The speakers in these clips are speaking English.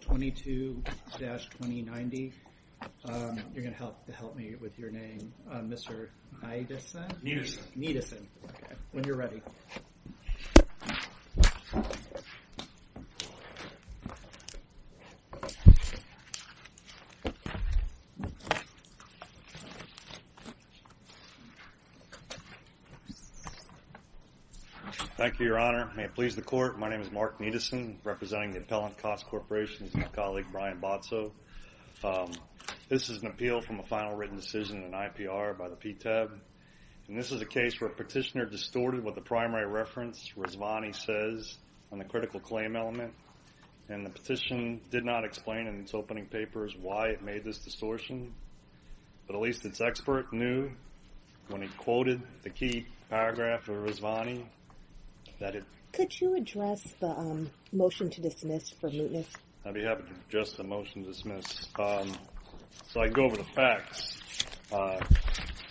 22-2090. You're going to have to help me with your name. Mr. Niedeson, when you're ready. Thank you, Your Honor. May it please the court, my name is Mark Niedeson representing the Appellant KOSS Corporation and my colleague Brian Botso. This is an appeal from a final written decision in IPR by the PTAB and this is a case where a petitioner distorted what the primary reference Rizvani says on the critical claim element and the petition did not explain in its opening papers why it made this distortion, but at least its expert knew when he quoted the key paragraph of Rizvani that it... Could you address the motion to dismiss for mootness? I'd be happy to address the motion to dismiss. So I'd go over the facts.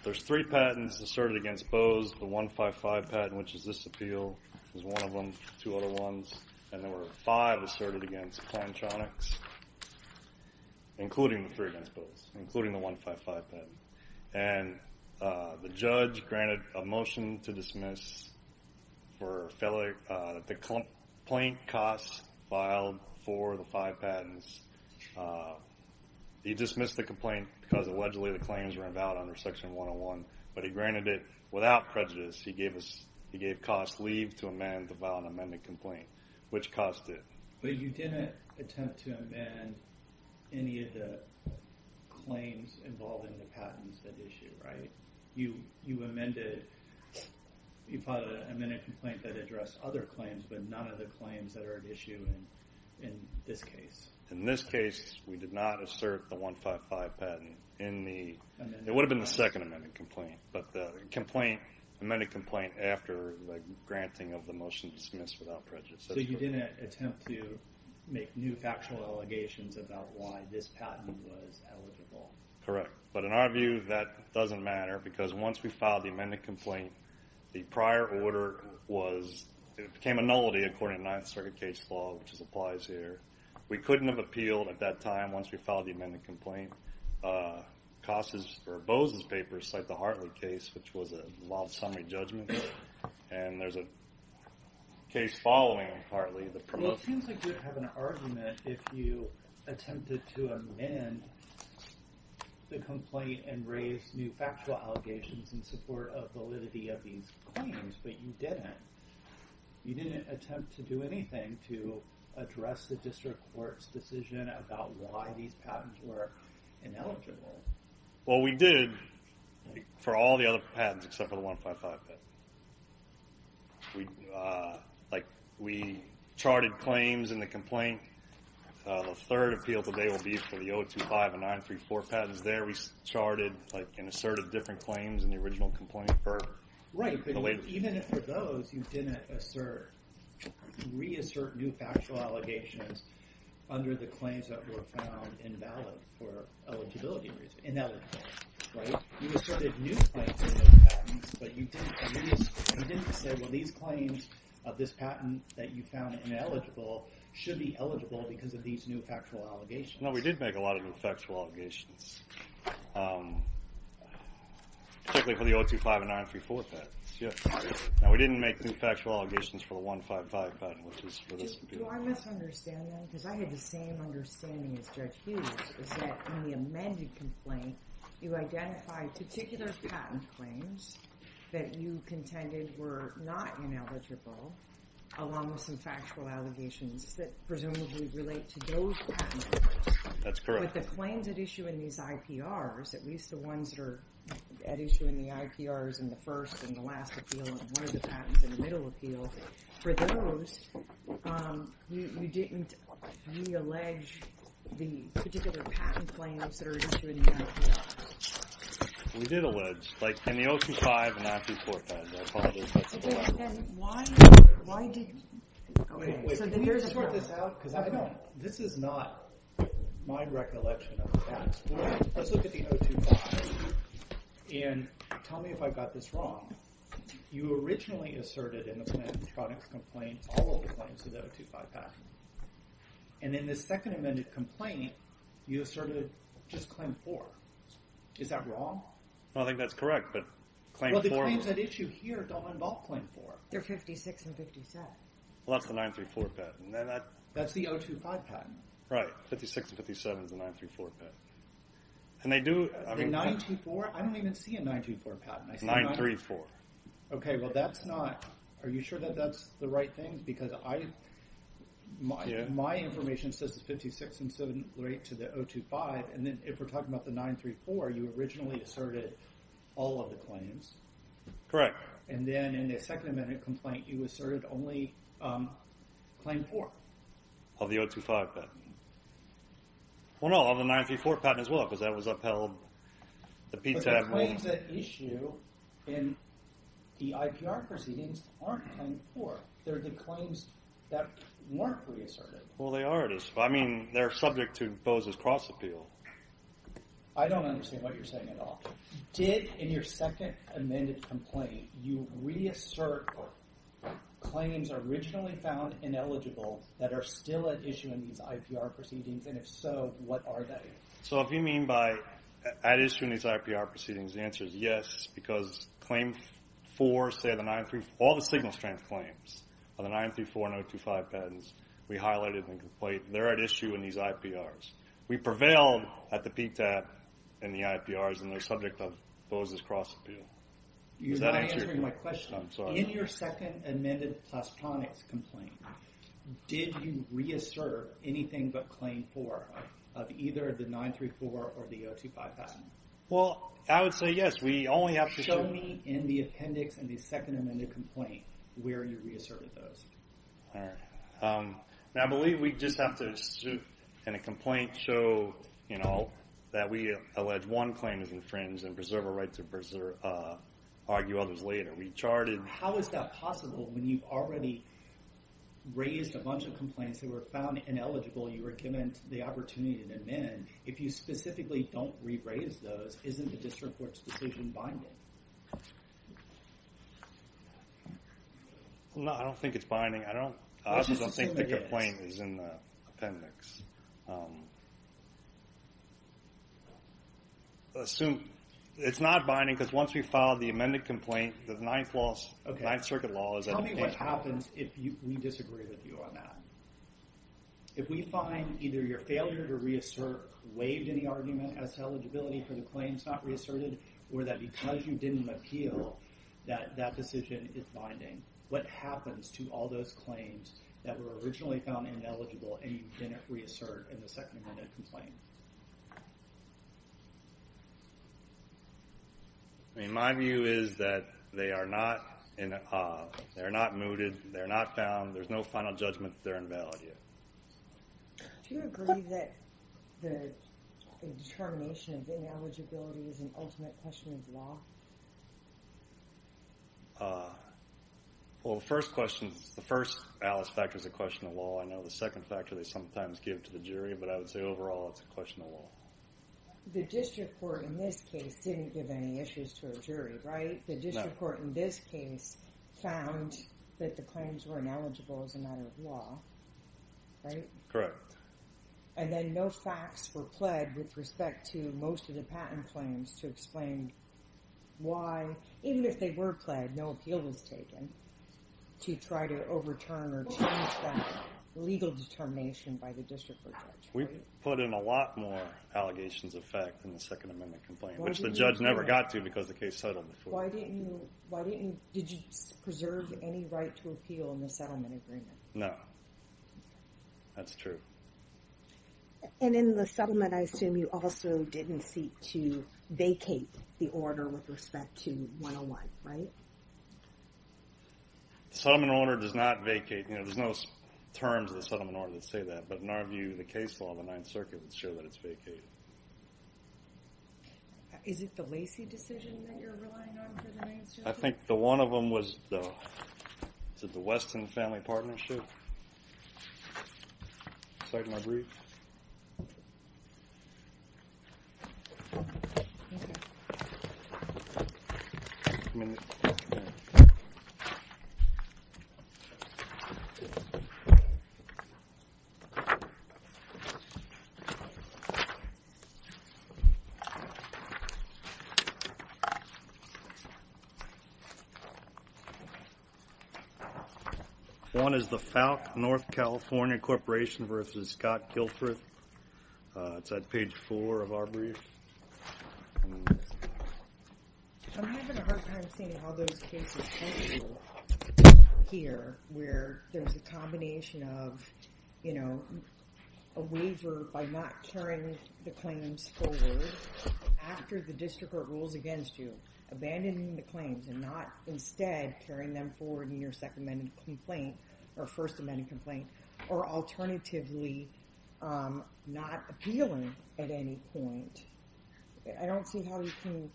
There's three patents asserted against Bose, the 155 patent which is this appeal, there's one of them, two other ones, and there were five asserted against Plantronics, including the three against Bose, including the 155 patent. And the judge granted a motion to dismiss for the complaint KOSS filed for the five patents. He dismissed the complaint because allegedly the claims were invalid under section 101, but he granted it without prejudice. He gave KOSS leave to amend the violent amendment complaint, which KOSS did. But you didn't attempt to amend any of the claims involving the patents that issue, right? You amended, you filed an amendment complaint that addressed other claims, but none of the claims that are at issue in this case. In this case, we did not assert the 155 patent in the, it would have been the second amendment complaint, but the amendment complaint after the granting of the motion to dismiss without prejudice. So you didn't attempt to make new factual allegations about why this patent was eligible? Correct. But in our view, that doesn't matter because once we filed the amendment complaint, the prior order was, it became a nullity according to the Ninth Circuit case law, which applies here. We couldn't have appealed at that time once we filed the amendment complaint. KOSS's, or Bose's, papers cite the Hartley case, which was a long summary judgment. And there's a case following Hartley that promotes- You didn't attempt to do anything to address the district court's decision about why these patents were ineligible? Well, we did for all the other patents except for the 155 patent. We charted claims in the complaint. The third appeal today will be for the 025 and 934 patents. There we charted and asserted different claims in the original complaint. Right, but even for those, you didn't reassert new factual allegations under the claims that were found invalid for eligibility reasons. Ineligible, right? You asserted new claims in those patents, but you didn't say, well, these claims of this patent that you found ineligible should be eligible because of these new factual allegations. No, we did make a lot of new factual allegations, particularly for the 025 and 934 patents. No, we didn't make new factual allegations for the 155 patent, which is what this would be. But do I misunderstand then? Because I had the same understanding as Judge Hughes, is that in the amended complaint, you identified particular patent claims that you contended were not ineligible, along with some factual allegations that presumably relate to those patents. That's correct. But with the claims at issue in these IPRs, at least the ones that are at issue in the IPRs in the first and the last appeal and one of the patents in the middle appeal, for those, you didn't reallege the particular patent claims that are at issue in the IPRs. We did allege, like in the 025 and 934 patents. Why did you? Can you sort this out? Because this is not my recollection of the past. Let's look at the 025 and tell me if I got this wrong. You originally asserted in the penetronics complaint all of the claims of the 025 patent. And in the second amended complaint, you asserted just claim four. Is that wrong? I don't think that's correct, but claim four. Well, the claims at issue here don't involve claim four. They're 56 and 57. Well, that's the 934 patent. That's the 025 patent. Right. 56 and 57 is the 934 patent. And they do, I mean. The 924? I don't even see a 924 patent. 934. Okay, well that's not, are you sure that that's the right thing? Because my information says it's 56 and 57 to the 025, and then if we're talking about the 934, you originally asserted all of the claims. Correct. And then in the second amended complaint, you asserted only claim four. Of the 025 patent. Well, no, of the 934 patent as well, because that was upheld. But the claims at issue in the IPR proceedings aren't claim four. They're the claims that weren't reasserted. Well, they are. I mean, they're subject to Bose's cross appeal. I don't understand what you're saying at all. Did, in your second amended complaint, you reassert claims originally found ineligible that are still at issue in these IPR proceedings, and if so, what are they? So if you mean by at issue in these IPR proceedings, the answer is yes, because claim four, say the 934, all the signal strength claims of the 934 and 025 patents, we highlighted in the complaint, they're at issue in these IPRs. We prevailed at the peak that, in the IPRs, and they're subject of Bose's cross appeal. You're not answering my question. I'm sorry. In your second amended plastotronics complaint, did you reassert anything but claim four of either the 934 or the 025 patent? Well, I would say yes. We only have to show... Show me in the appendix in the second amended complaint where you reasserted those. I believe we just have to, in a complaint, show that we allege one claim is infringed and preserve a right to argue others later. We charted... How is that possible when you've already raised a bunch of complaints that were found ineligible? You were given the opportunity to amend. If you specifically don't re-raise those, isn't the district court's decision binding? No, I don't think it's binding. I just don't think the complaint is in the appendix. Assume... It's not binding because once we filed the amended complaint, the Ninth Circuit law is... Tell me what happens if we disagree with you on that. If we find either your failure to reassert waived any argument as to eligibility for the claims not reasserted or that because you didn't appeal that that decision is binding, what happens to all those claims that were originally found ineligible and you didn't reassert in the second amended complaint? My view is that they are not mooted, they're not found, there's no final judgment, they're invalid here. Do you agree that the determination of ineligibility is an ultimate question of law? Well, the first question, the first Alice factor is a question of law. I know the second factor they sometimes give to the jury, but I would say overall it's a question of law. The district court in this case didn't give any issues to a jury, right? The district court in this case found that the claims were ineligible as a matter of law, right? Correct. And then no facts were pled with respect to most of the patent claims to explain why, even if they were pled, no appeal was taken to try to overturn or change that legal determination by the district court judge, right? We put in a lot more allegations of fact in the second amendment complaint, which the judge never got to because the case settled before. Why didn't you, why didn't, did you preserve any right to appeal in the settlement agreement? No, that's true. And in the settlement, I assume you also didn't seek to vacate the order with respect to 101, right? The settlement order does not vacate, you know, there's no terms of the settlement order that say that, but in our view, the case law of the Ninth Circuit would show that it's vacated. Is it the Lacey decision that you're relying on for the main suit? I think the one of them was the Weston family partnership. Sorry to interrupt. One is the FALC, North California Corporation versus Scott Guilford. It's at page four of our brief. I'm having a hard time seeing how those cases come through here where there's a combination of, you know, a waiver by not carrying the claims forward after the district court rules against you, and not instead carrying them forward in your second amendment complaint, or first amendment complaint, or alternatively not appealing at any point. I don't see how you can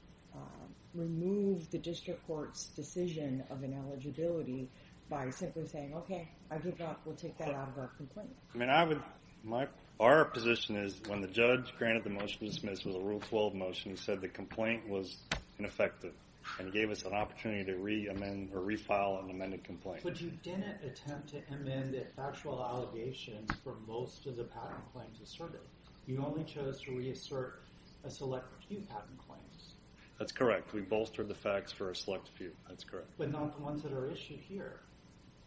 remove the district court's decision of ineligibility by simply saying, okay, I give up, we'll take that out of our complaint. Our position is when the judge granted the motion to dismiss with a rule 12 motion, he said the complaint was ineffective and gave us an opportunity to re-file an amended complaint. But you didn't attempt to amend the factual allegations for most of the patent claims asserted. You only chose to reassert a select few patent claims. That's correct. We bolstered the facts for a select few. That's correct. But not the ones that are issued here.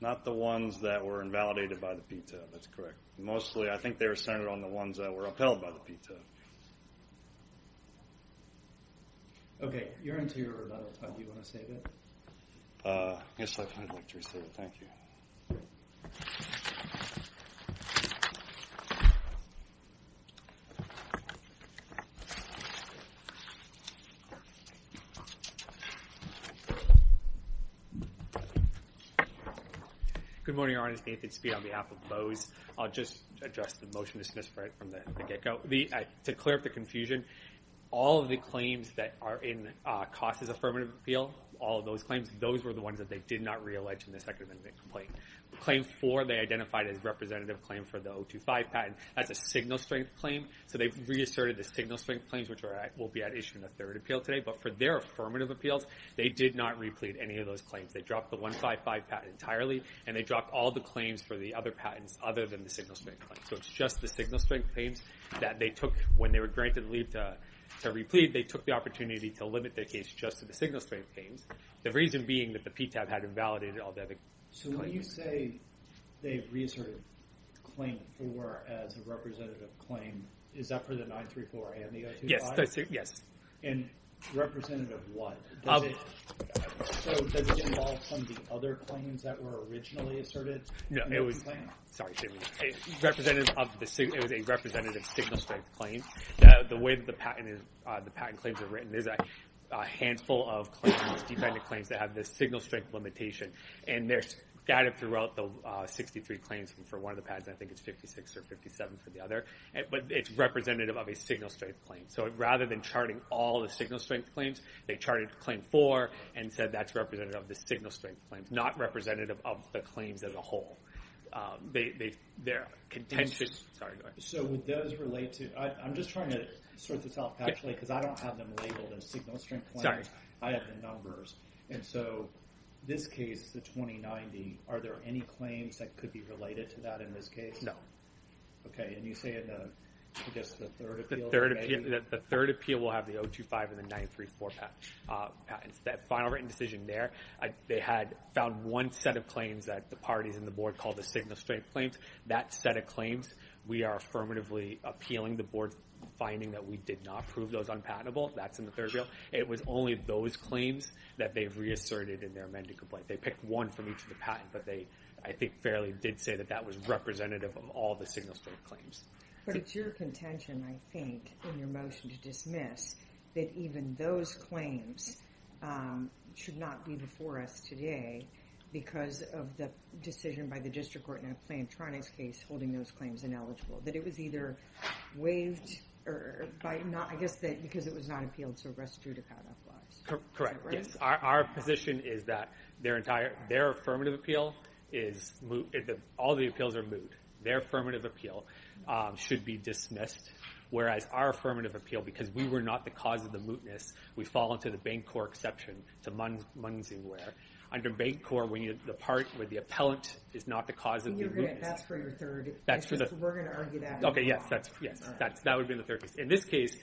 Not the ones that were invalidated by the PTO. That's correct. Mostly I think they were centered on the ones that were upheld by the PTO. Okay. You're into your rebuttal time. Do you want to save it? Yes, I'd like to re-save it. Thank you. Good morning, Your Honor. It's Nathan Speed on behalf of BOWS. I'll just address the motion to dismiss right from the get-go. To clear up the confusion, all of the claims that are in COS's affirmative appeal, all of those claims, those were the ones that they did not re-allege in the second amendment complaint. Claim four, they identified as representative claim for the 025 patent. That's a signal strength claim. So they've reasserted the signal strength claims, which will be at issue in the third appeal today. But for their affirmative appeals, they did not re-plead any of those claims. They dropped the 155 patent entirely, and they dropped all the claims for the other patents other than the signal strength claims. So it's just the signal strength claims that they took when they were granted leave to re-plead. They took the opportunity to limit their case just to the signal strength claims. The reason being that the PTAB had invalidated all the other claims. So when you say they've reasserted claim four as a representative claim, is that for the 934 and the 025? Yes. And representative what? So does it involve some of the other claims that were originally asserted? No. Sorry, excuse me. It was a representative signal strength claim. The way that the patent claims are written is a handful of claims, defendant claims, that have this signal strength limitation. And they're scattered throughout the 63 claims for one of the patents. I think it's 56 or 57 for the other. But it's representative of a signal strength claim. So rather than charting all the signal strength claims, they charted claim four and said that's representative of the signal strength claims, not representative of the claims as a whole. They're contentious. Sorry, go ahead. So would those relate to – I'm just trying to sort this out, actually, because I don't have them labeled as signal strength claims. I have the numbers. And so this case, the 2090, are there any claims that could be related to that in this case? No. Okay. And you say in, I guess, the third appeal? The third appeal will have the 025 and the 934 patents. That final written decision there, they had found one set of claims that the parties in the board called the signal strength claims. That set of claims we are affirmatively appealing the board finding that we did not prove those unpatentable. That's in the third bill. It was only those claims that they've reasserted in their amended complaint. They picked one from each of the patents, but they, I think, fairly did say that that was representative of all the signal strength claims. But it's your contention, I think, in your motion to dismiss that even those claims should not be before us today because of the decision by the district court in a plaintronics case holding those claims ineligible. That it was either waived or – I guess because it was not appealed, so rest due to patent laws. Correct, yes. Our position is that their affirmative appeal is – all the appeals are moot. Their affirmative appeal should be dismissed, whereas our affirmative appeal, because we were not the cause of the mootness, we fall into the Bancorp exception to Munsingware. Under Bancorp, the part where the appellant is not the cause of the mootness – That's for your third. That's for the – We're going to argue that. Okay, yes. That would be in the third case. In this case,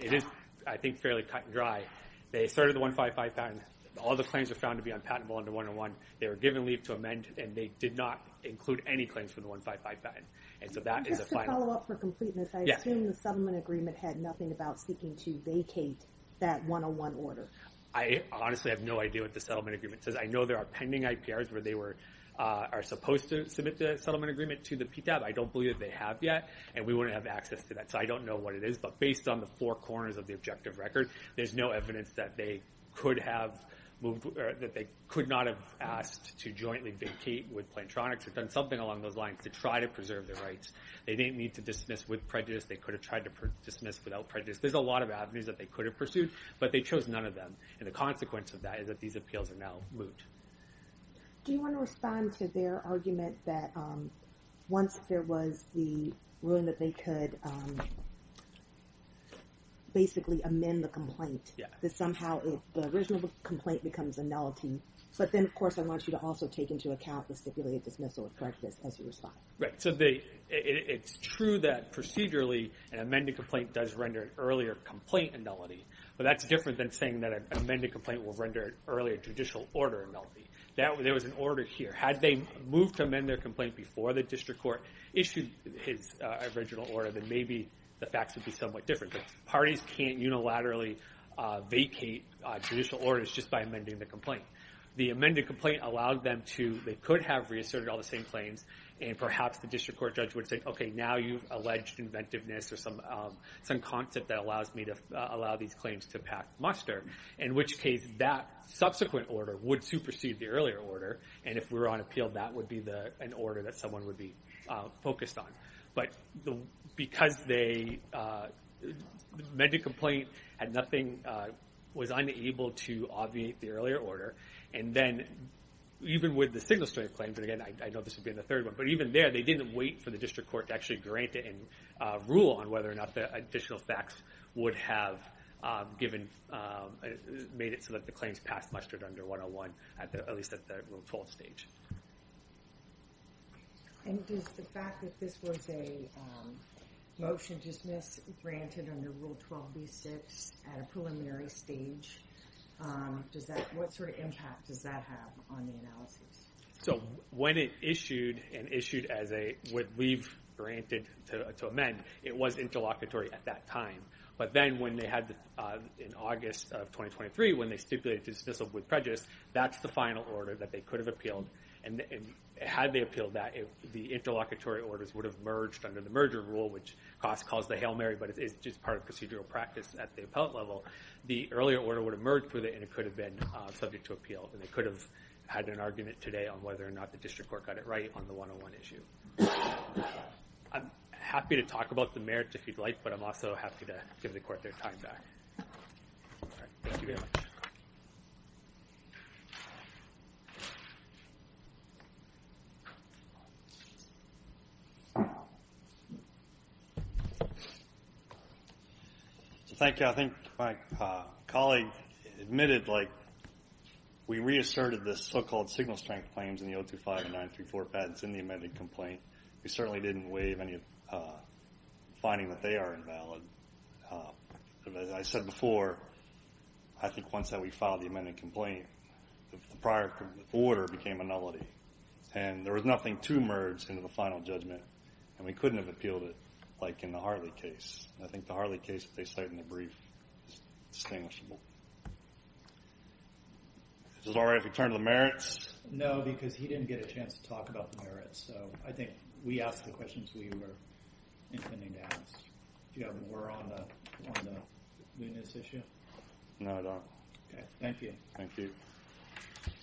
it is, I think, fairly cut and dry. They asserted the 155 patent. All the claims were found to be unpatentable under 101. They were given leave to amend, and they did not include any claims for the 155 patent. And so that is a final – Just to follow up for completeness, I assume the settlement agreement had nothing about seeking to vacate that 101 order. I honestly have no idea what the settlement agreement says. I know there are pending IPRs where they are supposed to submit the settlement agreement to the PTAB. I don't believe they have yet, and we wouldn't have access to that, so I don't know what it is. But based on the four corners of the objective record, there's no evidence that they could not have asked to jointly vacate with Plantronics or done something along those lines to try to preserve their rights. They didn't need to dismiss with prejudice. They could have tried to dismiss without prejudice. There's a lot of avenues that they could have pursued, but they chose none of them. And the consequence of that is that these appeals are now moot. Do you want to respond to their argument that once there was the ruling that they could basically amend the complaint, that somehow the original complaint becomes a nullity? But then, of course, I want you to also take into account the stipulated dismissal of prejudice as you respond. Right. So it's true that procedurally an amended complaint does render an earlier complaint a nullity. But that's different than saying that an amended complaint will render an earlier judicial order a nullity. There was an order here. Had they moved to amend their complaint before the district court issued its original order, then maybe the facts would be somewhat different. But parties can't unilaterally vacate judicial orders just by amending the complaint. The amended complaint allowed them to – they could have reasserted all the same claims, and perhaps the district court judge would say, okay, now you've alleged inventiveness or some concept that allows me to allow these claims to pack muster. In which case, that subsequent order would supersede the earlier order. And if we were on appeal, that would be an order that someone would be focused on. But because the amended complaint had nothing – was unable to obviate the earlier order, and then even with the single-story claims – and again, I know this would be in the third one – but even there, they didn't wait for the district court to actually grant it and rule on whether or not the additional facts would have given – made it so that the claims passed mustered under 101, at least at the Rule 12 stage. And does the fact that this was a motion to dismiss granted under Rule 12b-6 at a preliminary stage, what sort of impact does that have on the analysis? So when it issued and issued as a – would leave granted to amend, it was interlocutory at that time. But then when they had – in August of 2023, when they stipulated dismissal with prejudice, that's the final order that they could have appealed. And had they appealed that, the interlocutory orders would have merged under the merger rule, which Cost calls the Hail Mary, but it's just part of procedural practice at the appellate level. The earlier order would have merged with it, and it could have been subject to appeal. And they could have had an argument today on whether or not the district court got it right on the 101 issue. I'm happy to talk about the merits, if you'd like, but I'm also happy to give the court their time back. Thank you very much. Thank you. I think my colleague admitted, like, we reasserted the so-called signal strength claims in the 025 and 934 patents in the amended complaint. We certainly didn't waive any finding that they are invalid. As I said before, I think once that we filed the amended complaint, the prior order became a nullity. And there was nothing to merge into the final judgment. And we couldn't have appealed it like in the Harley case. I think the Harley case, if they cite in the brief, is distinguishable. Is it all right if we turn to the merits? No, because he didn't get a chance to talk about the merits. So I think we asked the questions we were intending to ask. Do you have a word on the newness issue? No, I don't. Okay. Thank you. Thank you.